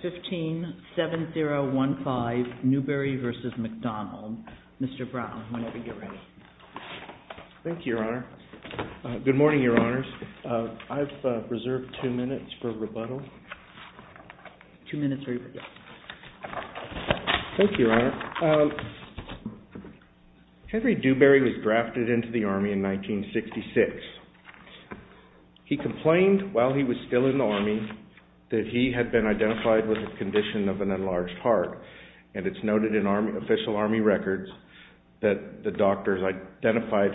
Mr. Brown, whenever you're ready. Thank you, Your Honor. Good morning, Your Honors. I've reserved two minutes for rebuttal. Two minutes for rebuttal. Thank you, Your Honor. Henry Dewberry was drafted into the Army in 1966. He complained while he was still in the Army that he had been identified with a condition of an enlarged heart, and it's noted in official Army records that the doctors identified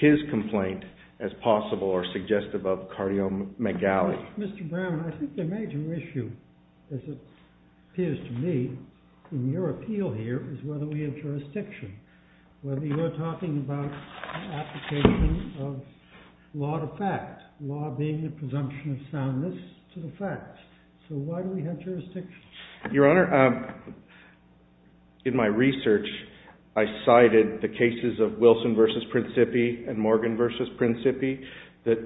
his complaint as possible or suggestive of cardiomegaly. Mr. Brown, I think the major issue, as it appears to me, in your appeal here is whether we have jurisdiction, whether you're talking about application of law to fact, law being the facts. So why do we have jurisdiction? Your Honor, in my research, I cited the cases of Wilson v. Principi and Morgan v. Principi,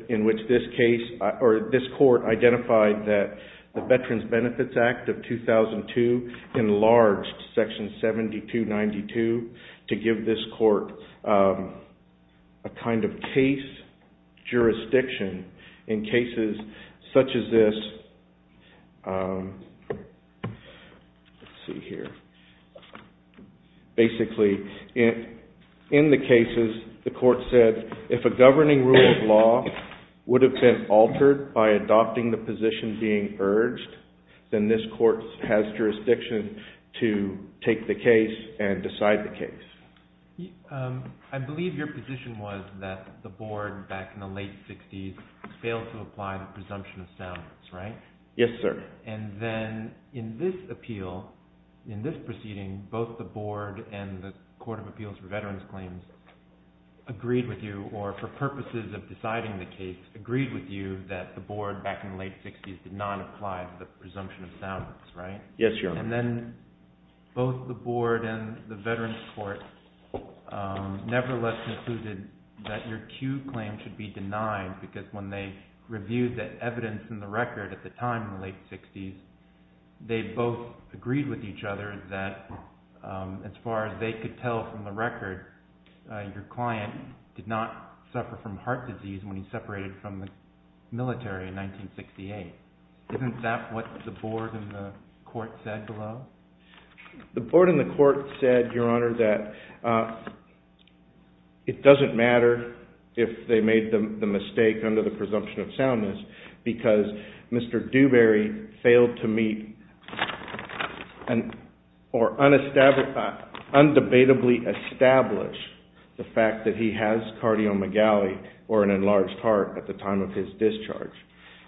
in which this case or this court identified that the Veterans Benefits Act of 2002 enlarged Section 7292 to give this court a kind of case jurisdiction in cases such as this. Let's see here. Basically, in the cases, the court said, if a governing rule of law would have been altered by adopting the position being urged, then this court has jurisdiction to take the case and decide the case. I believe your position was that the board, back in the late 60s, failed to apply the presumption of soundness, right? Yes, sir. And then in this appeal, in this proceeding, both the board and the Court of Appeals for Veterans Claims agreed with you, or for purposes of deciding the case, agreed with you that the board, back in the late 60s, did not apply the presumption of soundness, right? Yes, Your Honor. And then both the board and the Veterans Court nevertheless concluded that your cue claim should be denied, because when they reviewed the evidence in the record at the time, in the late 60s, they both agreed with each other that, as far as they could tell from the record, your client did not suffer from heart disease when he separated from the military in 1968. Isn't that what the board and the court said, below? The board and the court said, Your Honor, that it doesn't matter if they made the mistake under the presumption of soundness, because Mr. Dewberry failed to meet or undebatably establish the fact that he has cardiomegaly, or an enlarged heart, at the time of his discharge.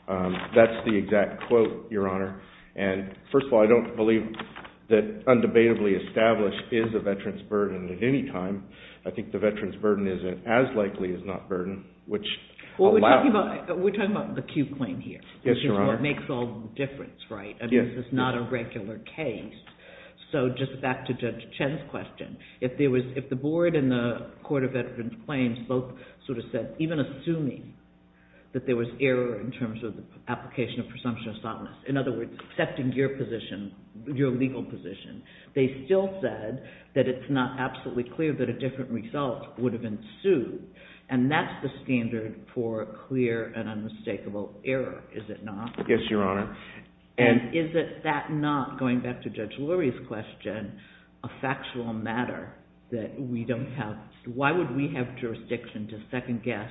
That's the exact quote, Your Honor. And, first of all, I don't believe that undebatably established is a veteran's burden at any time. I think the veteran's burden isn't as likely as not burden, which allows... Well, we're talking about the cue claim here, which is what makes all the difference, right? I mean, this is not a regular case. So just back to Judge Chen's question. If there was, the veteran's claims both sort of said, even assuming that there was error in terms of the application of presumption of soundness, in other words, accepting your position, your legal position, they still said that it's not absolutely clear that a different result would have ensued. And that's the standard for clear and unmistakable error, is it not? Yes, Your Honor. And is it that not, going back to Judge Lurie's question, a factual matter that we don't have... Why would we have jurisdiction to second-guess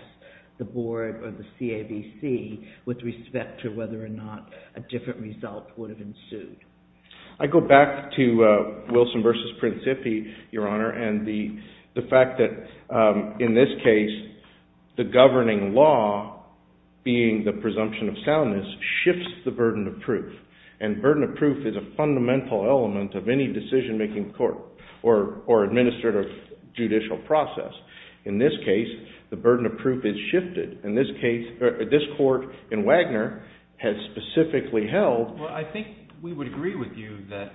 the board or the CAVC with respect to whether or not a different result would have ensued? I go back to Wilson v. Principi, Your Honor, and the fact that, in this case, the governing law, being the presumption of soundness, shifts the burden of proof. And burden of proof is a fundamental element of any decision-making court or administrative judicial process. In this case, the burden of proof is shifted. In this case, this court in Wagner has specifically held... Well, I think we would agree with you that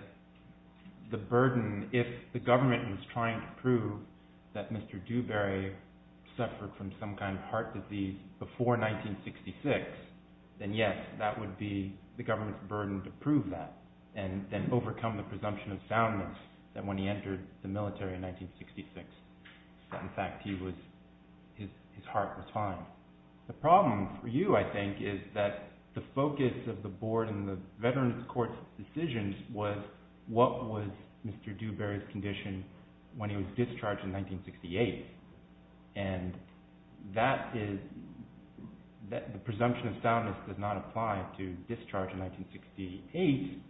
the burden, if the government was trying to prove that Mr. Dewberry suffered from some kind of heart disease before 1966, then yes, that would be the government's burden to prove that and then overcome the presumption of soundness that when he entered the military in 1966, in fact, his heart was fine. The problem for you, I think, is that the focus of the board and the Veterans Court's decisions was, what was Mr. Dewberry's condition when he was discharged in 1968? And the presumption of soundness does not apply to discharge in 1968.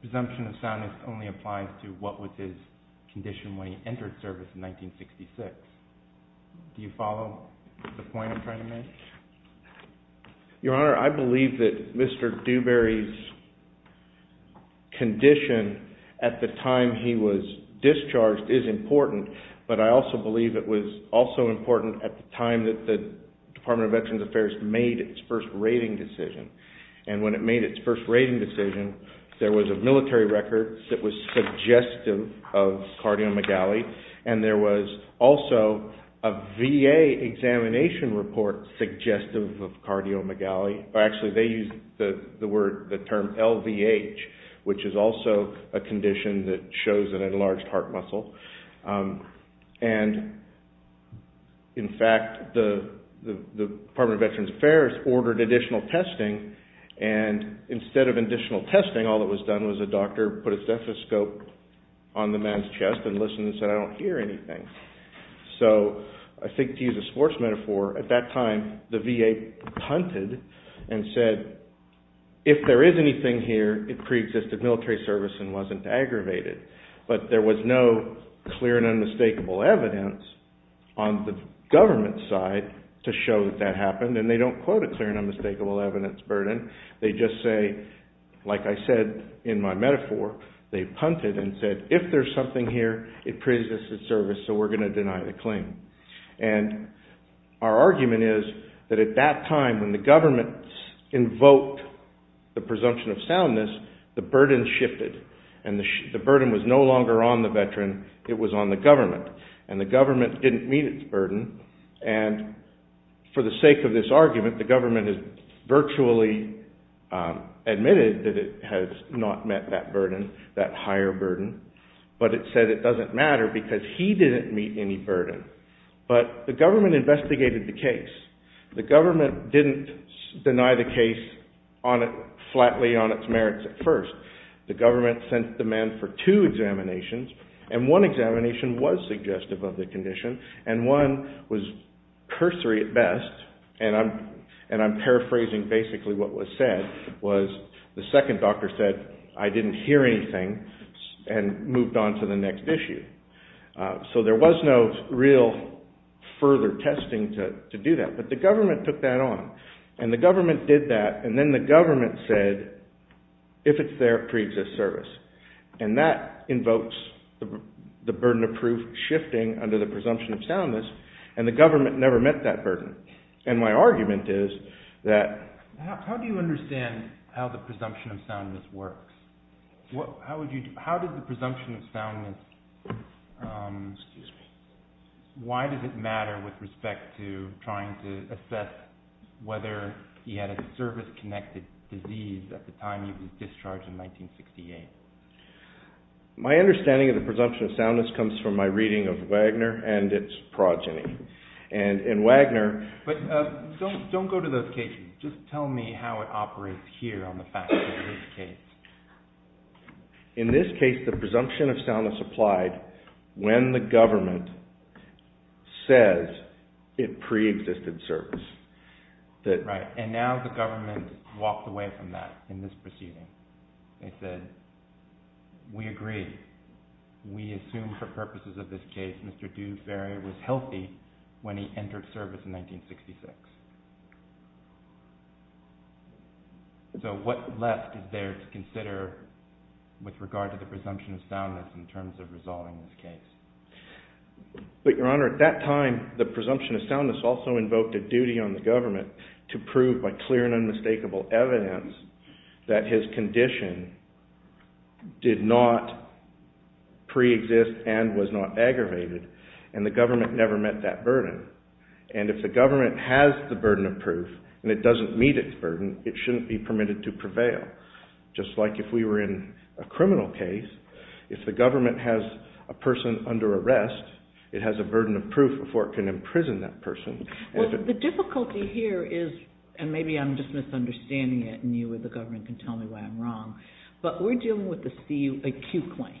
Presumption of soundness only applies to what was his condition when he entered service in 1966. Do you follow the point I'm trying to make? Your Honor, I believe that Mr. Dewberry's condition at the time he was discharged is important, but I also believe it was also important at the time that the Department of Veterans Affairs made its first rating decision. And when it made its first rating decision, there was a military record that was suggestive of cardiomegaly and there was also a VA examination report suggestive of cardiomegaly. Actually, they used the term LVH, which is also a condition that shows an enlarged heart muscle. And, in fact, the Department of Veterans Affairs ordered additional testing and instead of additional testing, all that was done was a doctor put a stethoscope on the man's chest and listened and said, I don't hear anything. So, I think to use a sports metaphor, at that time the VA punted and said, if there is anything here, it pre-existed military service and wasn't aggravated. But there was no clear and unmistakable evidence on the government side to show that that happened. And they don't quote a clear and unmistakable evidence burden. They just say, like I said in my metaphor, they punted and said, if there's something here, it pre-existed service, so we're going to deny the claim. And our argument is that at that time when the government invoked the presumption of soundness, the burden shifted and the burden was no longer on the veteran, it was on the government. And the government didn't meet its burden and for the sake of this argument, the government has virtually admitted that it has not met that burden, that higher burden, but it said it doesn't matter because he didn't meet any burden. But the government investigated the case. The government didn't deny the case flatly on its merits at first. The government sent the man for two examinations and one examination was suggestive of the condition and one was cursory at best, and I'm paraphrasing basically what was said, was the second doctor said, I didn't hear anything and moved on to the next issue. So there was no real further testing to do that, but the government took that on and the government did that and then the government said, if it's there, pre-exist service. And that invokes the burden of proof shifting under the presumption of soundness and the How do you understand how the presumption of soundness works? How did the presumption of soundness, why does it matter with respect to trying to assess whether he had a service-connected disease at the time he was discharged in 1968? My understanding of the presumption of soundness comes from my reading of Wagner and its progeny. But don't go to those cases, just tell me how it operates here on the facts of this case. In this case, the presumption of soundness applied when the government says it pre-existed service. Right, and now the government walked away from that in this proceeding. They said, we agree. We assume for purposes of this case, Mr. Dewberry was healthy when he entered service in 1966. So what left is there to consider with regard to the presumption of soundness in terms of resolving this case? But Your Honor, at that time, the presumption of soundness also invoked a duty on the government to prove by clear and unmistakable evidence that his condition did not pre-exist and was not aggravated. And the government never met that burden. And if the government has the burden of proof, and it doesn't meet its burden, it shouldn't be permitted to prevail. Just like if we were in a criminal case, if the government has a person under arrest, it has a burden of proof before it can imprison that person. Well, the difficulty here is, and maybe I'm just misunderstanding it, and you or the government can tell me why I'm wrong, but we're dealing with a CU claim.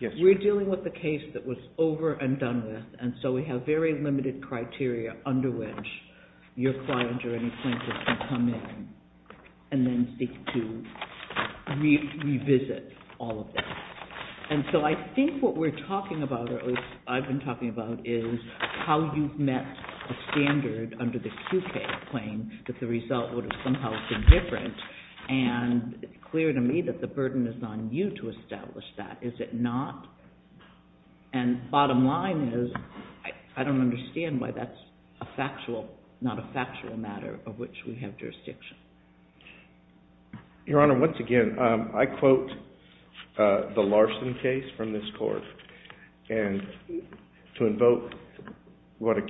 We're dealing with a case that was over and done with, and so we have very limited criteria under which your client or any plaintiff can come in and then seek to revisit all of that. And so I think what we're talking about, or at least I've been talking about, is how you've met a standard under the CU claim that the result would have somehow been different. And it's clear to me that the burden is on you to establish that. Is it not? And bottom line is, I don't understand why that's a factual, not a factual matter of which we have jurisdiction. Your Honor, once again, I quote the Larson case from this court. And to invoke what a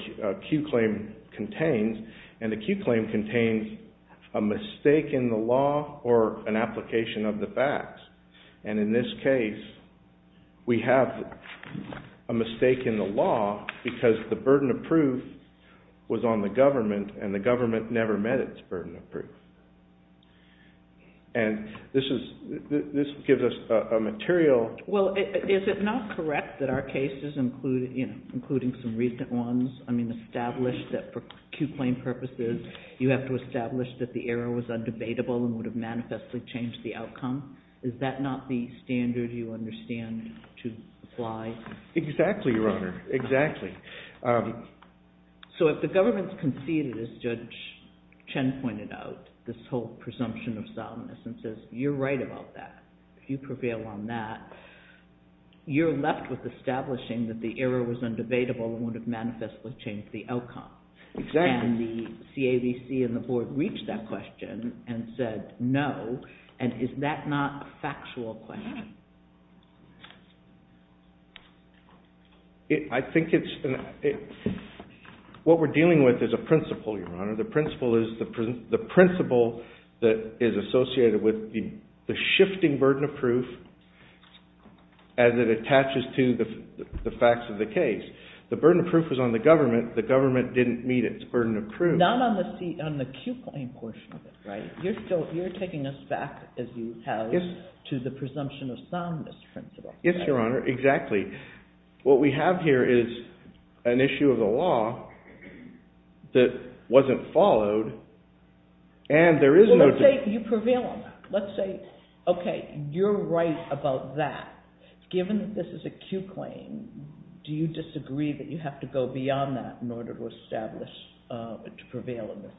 CU claim contains, and a CU claim contains a mistake in the law or an application of the facts. And in this case, we have a mistake in the law because the burden of proof was on the government and the government never met its burden of proof. And this gives us a material... Well, is it not correct that our cases, including some recent ones, I mean, establish that for CU claim purposes, you have to establish that the error was undebatable and would have manifestly changed the outcome? Is that not the standard you understand to apply? Exactly, Your Honor. Exactly. So if the government's conceded, as Judge Chen pointed out, this whole presumption of solemnness, and says, you're right about that, you prevail on that, you're left with establishing that the error was undebatable and would have manifestly changed the outcome. And the CAVC and the board reached that question and said, no. And is that not a factual question? I think it's... What we're dealing with is a principle, Your Honor. The principle that is associated with the shifting burden of proof as it attaches to the facts of the case. The burden of proof was on the government. The government didn't meet its burden of proof. Not on the CU claim portion of it, right? You're taking us back, as you have, to the presumption of solemnness principle. Yes, Your Honor. Exactly. What we have here is an issue of the law that wasn't followed and there is no... Well, let's say you prevail on that. Let's say, okay, you're right about that. Given that this is a CU claim, do you disagree that you have to go beyond that in order to establish, to prevail in this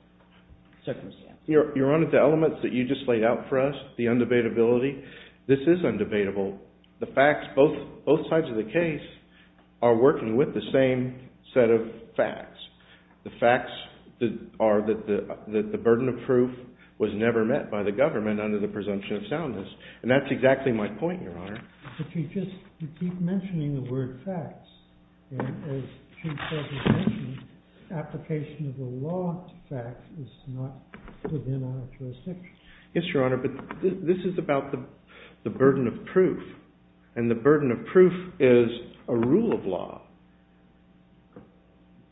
circumstance? Your Honor, the elements that you just laid out for us, the undebatability, this is undebatable. The facts, both sides of the case are working with the same set of facts. The facts are that the burden of proof was never met by the government under the presumption of solemnness. And that's exactly my point, Your Honor. But you just keep mentioning the word facts. And as Chief Justice mentioned, application of the law to facts is not within our jurisdiction. Yes, Your Honor. But this is about the burden of proof. And the burden of proof is a rule of law.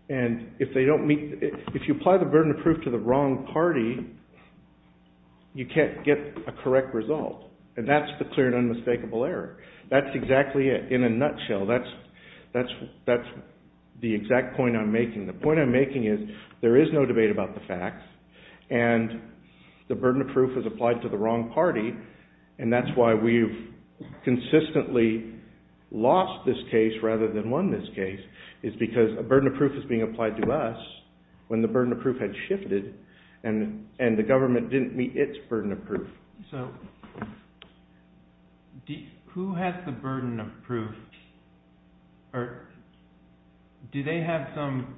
And if you apply the burden of proof to the wrong party, you can't get a correct result. And that's the clear and unmistakable error. That's exactly it, in a nutshell. That's the exact point I'm making. The point I'm making is there is no debate about the facts, and the burden of proof is applied to the wrong party. And that's why we've consistently lost this case rather than won this case, is because a burden of proof is being applied to us, when the burden of proof had shifted and the government didn't meet its burden of proof. So who has the burden of proof, or do they have some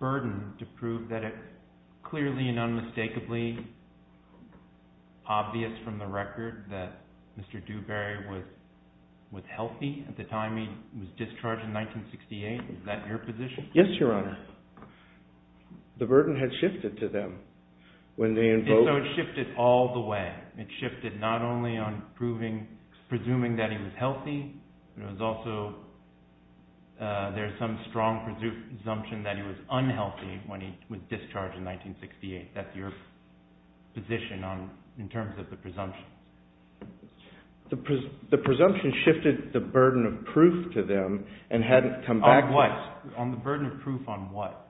burden to prove that it's clearly and unmistakably obvious from the record that Mr. Dewberry was healthy at the time he was discharged in 1968? Is that your position? Yes, Your Honor. The burden had shifted to them. So it shifted all the way. It shifted not only on presuming that he was healthy, but it was also there's some strong presumption that he was unhealthy when he was discharged in 1968. That's your position in terms of the presumption. The presumption shifted the burden of proof to them and hadn't come back to us. On the burden of proof on what?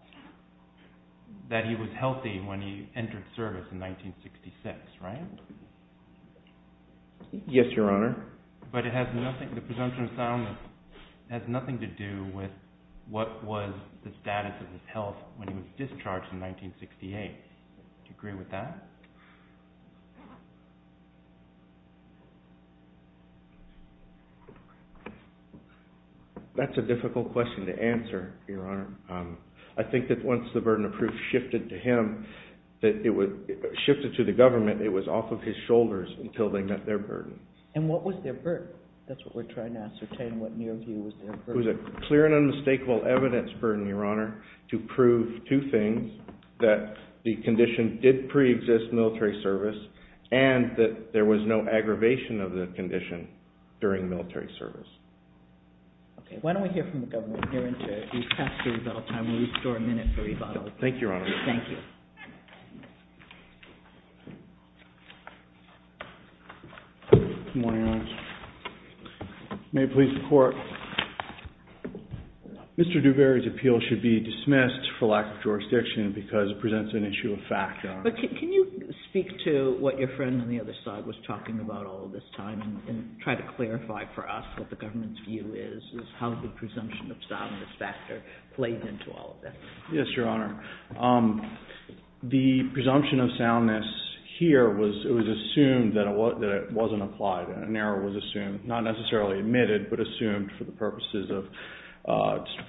That he was healthy when he entered service in 1966, right? Yes, Your Honor. But it has nothing, the presumption of soundness has nothing to do with what was the status of his health when he was discharged in 1968. Do you agree with that? That's a difficult question to answer, Your Honor. I think that once the burden of proof shifted to him, shifted to the government, it was off of his shoulders until they met their burden. And what was their burden? That's what we're trying to ascertain. What in your view was their burden? It was a clear and unmistakable evidence burden, Your Honor, to prove two things. That the condition did pre-exist military service and that there was no aggravation of the condition during military service. Okay, why don't we hear from the government here in a minute for rebuttal. Thank you, Your Honor. Thank you. Good morning, Your Honor. May it please the Court. Mr. Duvery's appeal should be dismissed for lack of jurisdiction because it presents an issue of fact, Your Honor. But can you speak to what your friend on the other side was talking about all this time and try to clarify for us what the government's view is, is how the presumption of soundness factor played into all of this. Yes, Your Honor. The presumption of soundness here was assumed that it wasn't applied. An error was assumed, not necessarily admitted, but assumed for the purposes of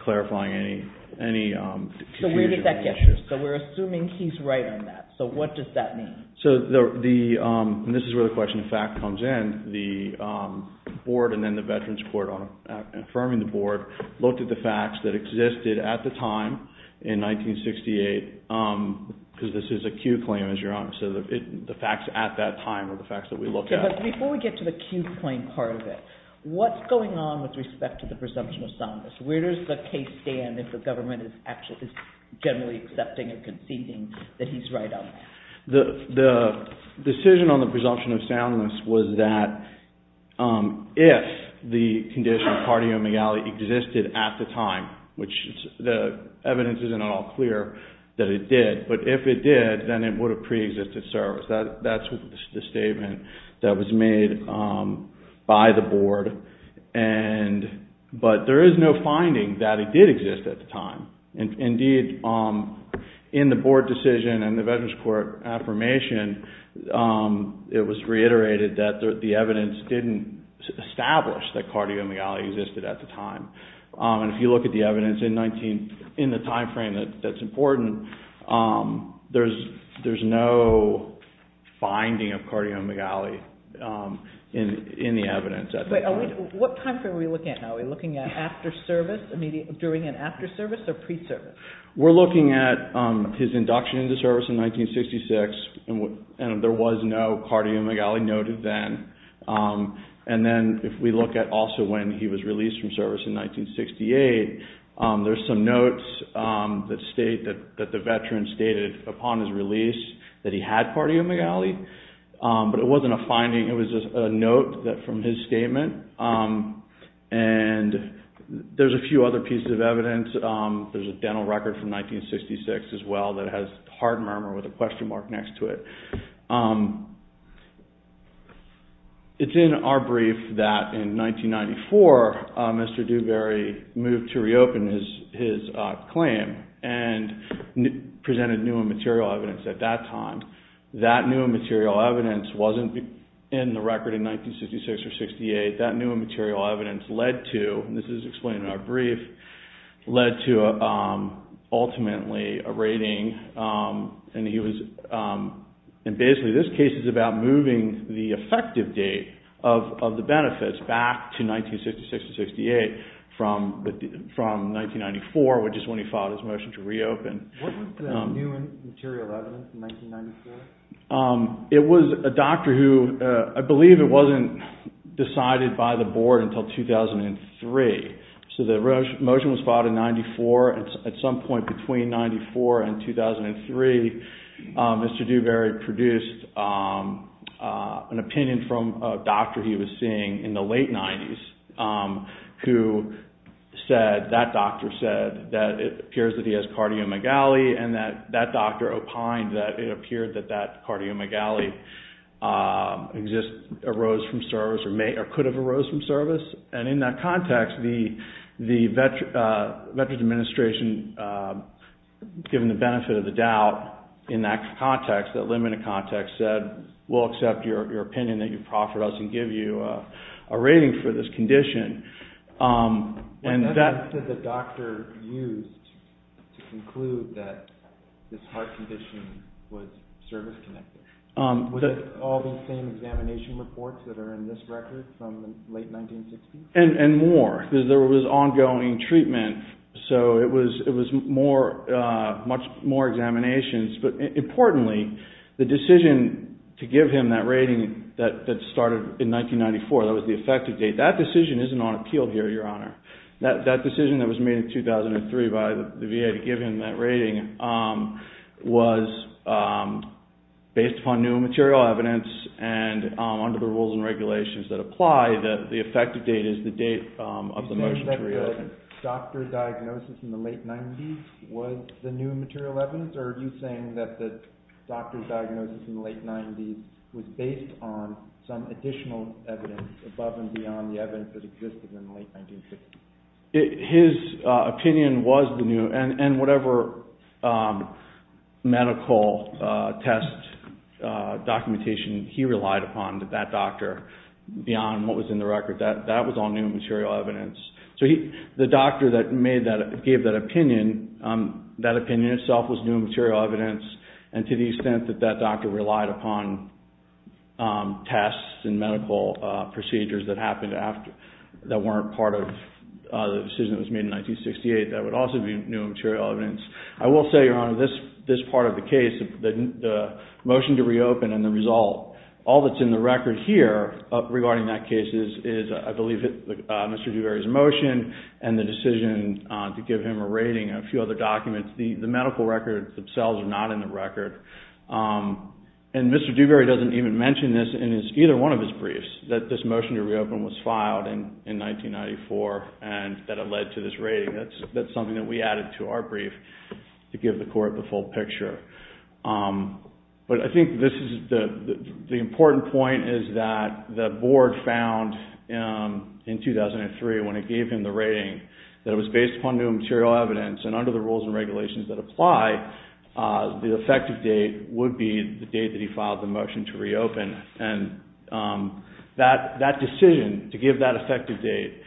clarifying any confusion. So where did that get you? So we're assuming he's right on that. So what does that mean? So this is where the question of fact comes in. And the Board and then the Veterans Court, affirming the Board, looked at the facts that existed at the time in 1968, because this is a Q claim, as Your Honor, so the facts at that time are the facts that we look at. Okay, but before we get to the Q claim part of it, what's going on with respect to the presumption of soundness? Where does the case stand if the government is actually generally accepting or conceding that he's right on that? The decision on the presumption of soundness was that if the condition of cardiomegaly existed at the time, which the evidence isn't at all clear that it did, but if it did, then it would have preexisted service. That's the statement that was made by the Board. But there is no finding that it did exist at the time. Indeed, in the Board decision and the Veterans Court affirmation, it was reiterated that the evidence didn't establish that cardiomegaly existed at the time. And if you look at the evidence in the timeframe that's important, there's no finding of cardiomegaly in the evidence at the time. What timeframe are we looking at now? Are we looking at after service, during and after service, or pre-service? We're looking at his induction into service in 1966, and there was no cardiomegaly noted then. And then if we look at also when he was released from service in 1968, there's some notes that state that the Veteran stated upon his release that he had cardiomegaly, but it wasn't a finding. It was a note from his statement, and there's a few other pieces of evidence. There's a dental record from 1966 as well that has hard murmur with a question mark next to it. It's in our brief that in 1994, Mr. Dewberry moved to reopen his claim and presented new and material evidence at that time. That new and material evidence wasn't in the record in 1966 or 68. That new and material evidence led to, and this is explained in our brief, led to ultimately a rating. And basically this case is about moving the effective date of the benefits back to 1966 or 68 from 1994, which is when he filed his motion to reopen. What was the new and material evidence in 1994? It was a doctor who, I believe it wasn't decided by the board until 2003. So the motion was filed in 94. At some point between 94 and 2003, Mr. Dewberry produced an opinion from a doctor he was seeing in the late 90s who said, that doctor said, that it appears that he has cardiomyogaly, and that that doctor opined that it appeared that that cardiomyogaly arose from service or could have arose from service. And in that context, the Veterans Administration, given the benefit of the doubt in that context, that limited context, said, we'll accept your opinion that you profit us and give you a rating for this condition. And that's what the doctor used to conclude that this heart condition was service-connected. Was it all the same examination reports that are in this record from the late 1960s? And more, because there was ongoing treatment. So it was much more examinations. But importantly, the decision to give him that rating that started in 1994, that was the effective date. That decision isn't on appeal here, Your Honor. That decision that was made in 2003 by the VA to give him that rating was based upon new and material evidence and under the rules and regulations that apply, that the effective date is the date of the motion to reopen. So you're saying that the doctor's diagnosis in the late 1990s was the new material evidence? Or are you saying that the doctor's diagnosis in the late 1990s was based on some additional evidence above and beyond the evidence that existed in the late 1950s? His opinion was the new, and whatever medical test documentation he relied upon, that doctor, beyond what was in the record, that was all new material evidence. So the doctor that gave that opinion, that opinion itself was new material evidence, and to the extent that that doctor relied upon tests and medical procedures that weren't part of the decision that was made in 1968, that would also be new material evidence. I will say, Your Honor, this part of the case, the motion to reopen and the result, all that's in the record here regarding that case is, I believe, Mr. Dewberry's motion and the decision to give him a rating and a few other documents. The medical records themselves are not in the record. And Mr. Dewberry doesn't even mention this in either one of his briefs, that this motion to reopen was filed in 1994 and that it led to this rating. That's something that we added to our brief to give the Court the full picture. But I think this is the important point is that the Board found in 2003 when it gave him the rating that it was based upon new material evidence and under the rules and regulations that apply, the effective date would be the date that he filed the motion to reopen. And that decision to give that effective date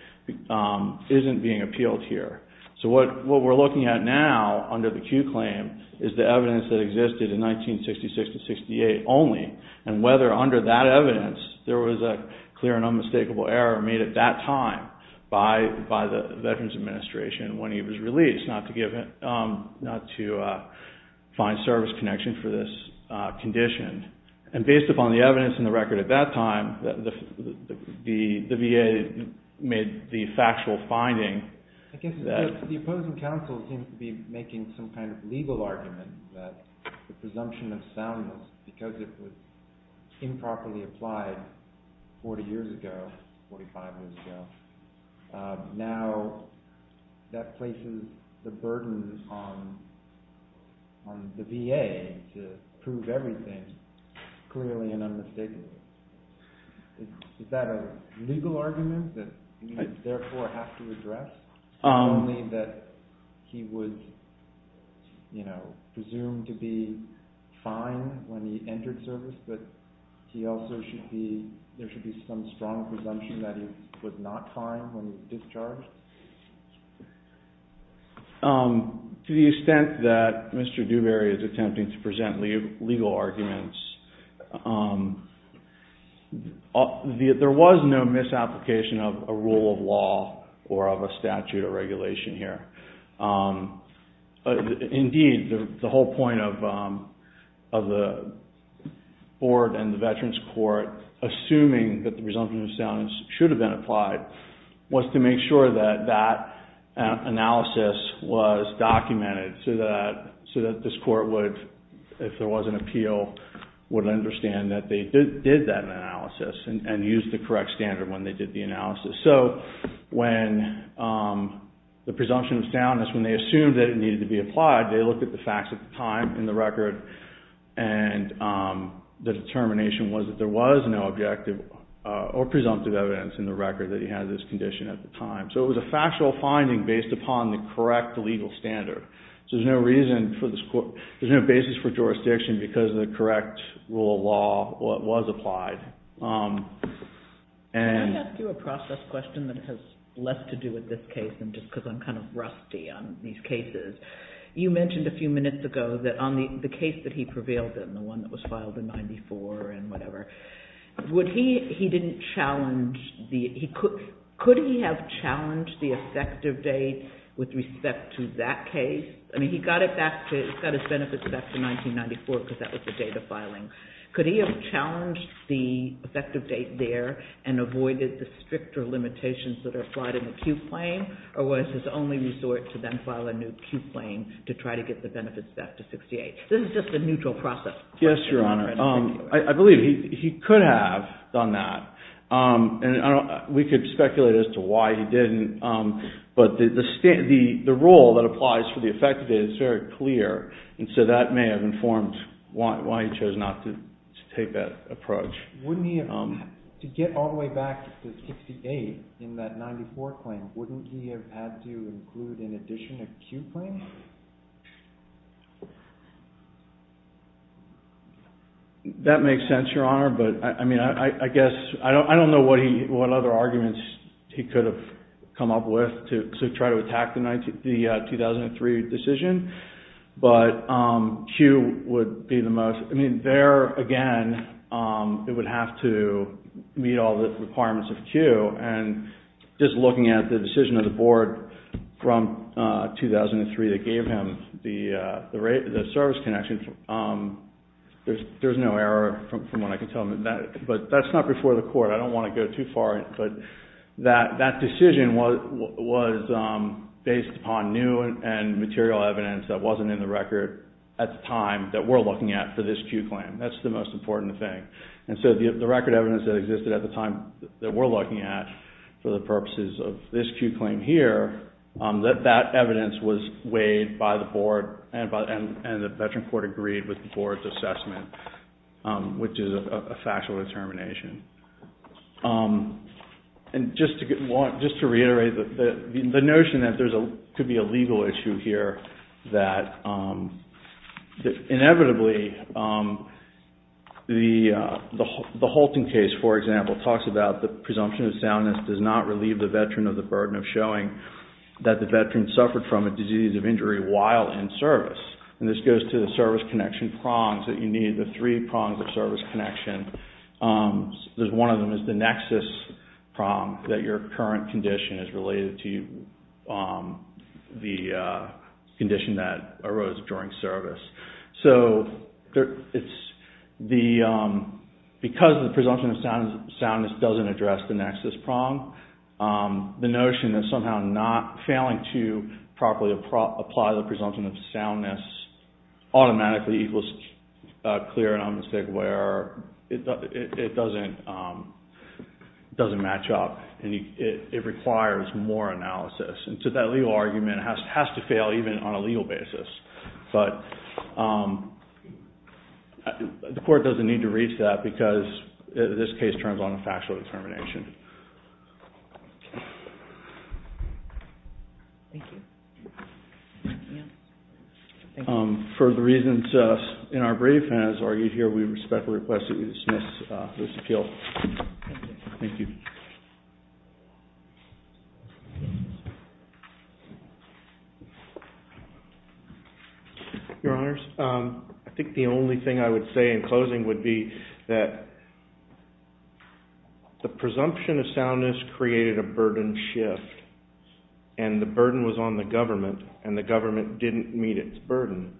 isn't being appealed here. So what we're looking at now under the Q claim is the evidence that existed in 1966-68 only and whether under that evidence there was a clear and unmistakable error made at that time by the Veterans Administration when he was released, not to find service connection for this condition. And based upon the evidence in the record at that time, the VA made the factual finding. I guess the opposing counsel seems to be making some kind of legal argument that the presumption of soundness, because it was improperly applied 40 years ago, 45 years ago, now that places the burden on the VA to prove everything clearly and unmistakably. Is that a legal argument that you therefore have to address? Not only that he was presumed to be fine when he entered service, but there should be some strong presumption that he was not fine when he was discharged? To the extent that Mr. Dewberry is attempting to present legal arguments, there was no misapplication of a rule of law or of a statute or regulation here. Indeed, the whole point of the board and the Veterans Court, assuming that the presumption of soundness should have been applied, was to make sure that that analysis was documented so that this court would, if there was an appeal, would understand that they did that analysis and used the correct standard when they did the analysis. When the presumption of soundness, when they assumed that it needed to be applied, they looked at the facts at the time in the record and the determination was that there was no objective or presumptive evidence in the record that he had this condition at the time. It was a factual finding based upon the correct legal standard. There's no basis for jurisdiction because of the correct rule of law was applied. Can I ask you a process question that has less to do with this case than just because I'm kind of rusty on these cases? You mentioned a few minutes ago that on the case that he prevailed in, the one that was filed in 1994 and whatever, could he have challenged the effective date with respect to that case? I mean, he got his benefits back to 1994 because that was the date of filing. Could he have challenged the effective date there and avoided the stricter limitations that are applied in the Q claim or was his only resort to then file a new Q claim to try to get the benefits back to 1968? This is just a neutral process. Yes, Your Honor. I believe he could have done that. We could speculate as to why he didn't, but the rule that applies for the effective date is very clear and so that may have informed why he chose not to take that approach. To get all the way back to 1968 in that 1994 claim, wouldn't he have had to include in addition a Q claim? That makes sense, Your Honor, but I mean, I guess, I don't know what other arguments he could have come up with to try to attack the 2003 decision, but Q would be the most, I mean, there again, it would have to meet all the requirements of Q and just looking at the decision of the board from 2003 that gave him the service connection, there's no error from what I can tell him, but I don't want to go too far, but that decision was based upon new and material evidence that wasn't in the record at the time that we're looking at for this Q claim. That's the most important thing. And so the record evidence that existed at the time that we're looking at for the purposes of this Q claim here, that evidence was weighed by the board and the veteran court agreed with the board's assessment, which is a factual determination. And just to reiterate, the notion that there could be a legal issue here, that inevitably, the Holton case, for example, talks about the presumption of soundness does not relieve the veteran of the burden of showing that the veteran suffered from a disease of injury while in service. And this goes to the service connection prongs that you need, the three prongs of service connection. One of them is the nexus prong, that your current condition is related to the condition that arose during service. So because the presumption of soundness doesn't address the nexus prong, the notion that somehow not failing to properly apply the presumption of soundness automatically equals a clear and unmistakable error, it doesn't match up and it requires more analysis. And so that legal argument has to fail even on a legal basis. But the court doesn't need to reach that because this case turns on a factual determination. Thank you. For the reasons in our brief, as argued here, we respectfully request that you dismiss this appeal. Thank you. Your Honors, I think the only thing I would say in closing would be that the presumption of soundness created a burden shift and the burden was on the government and the government didn't meet its burden.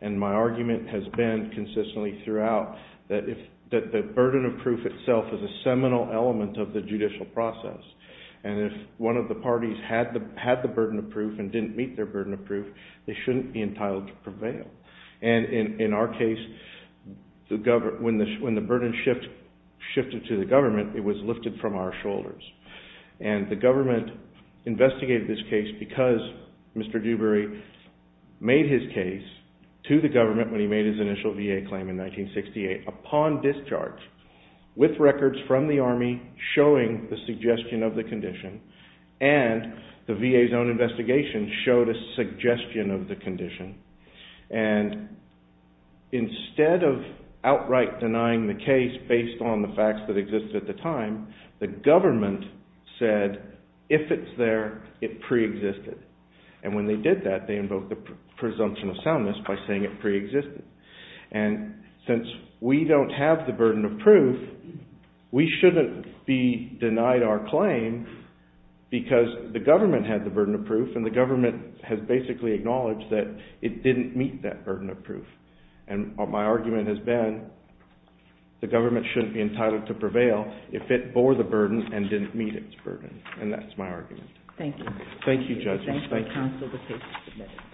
And my argument has been consistently throughout that the burden of proof itself is a seminal element of the judicial process. And if one of the parties had the burden of proof and didn't meet their burden of proof, they shouldn't be entitled to prevail. And in our case, when the burden shifted to the government, it was lifted from our shoulders. And the government investigated this case because Mr. Dewberry made his case to the government when he made his initial VA claim in 1968 upon discharge with records from the Army showing the suggestion of the condition and the VA's own investigation showed a suggestion of the condition. And instead of outright denying the case based on the facts that existed at the time, the government said, if it's there, it preexisted. And when they did that, they invoked the presumption of soundness by saying it preexisted. And since we don't have the burden of proof, we shouldn't be denied our claim because the government had the burden of proof and the government has basically acknowledged that it didn't meet that burden of proof. And my argument has been the government shouldn't be entitled to prevail if it bore the burden and didn't meet its burden. And that's my argument. Thank you. Thank you, judges. Thank you.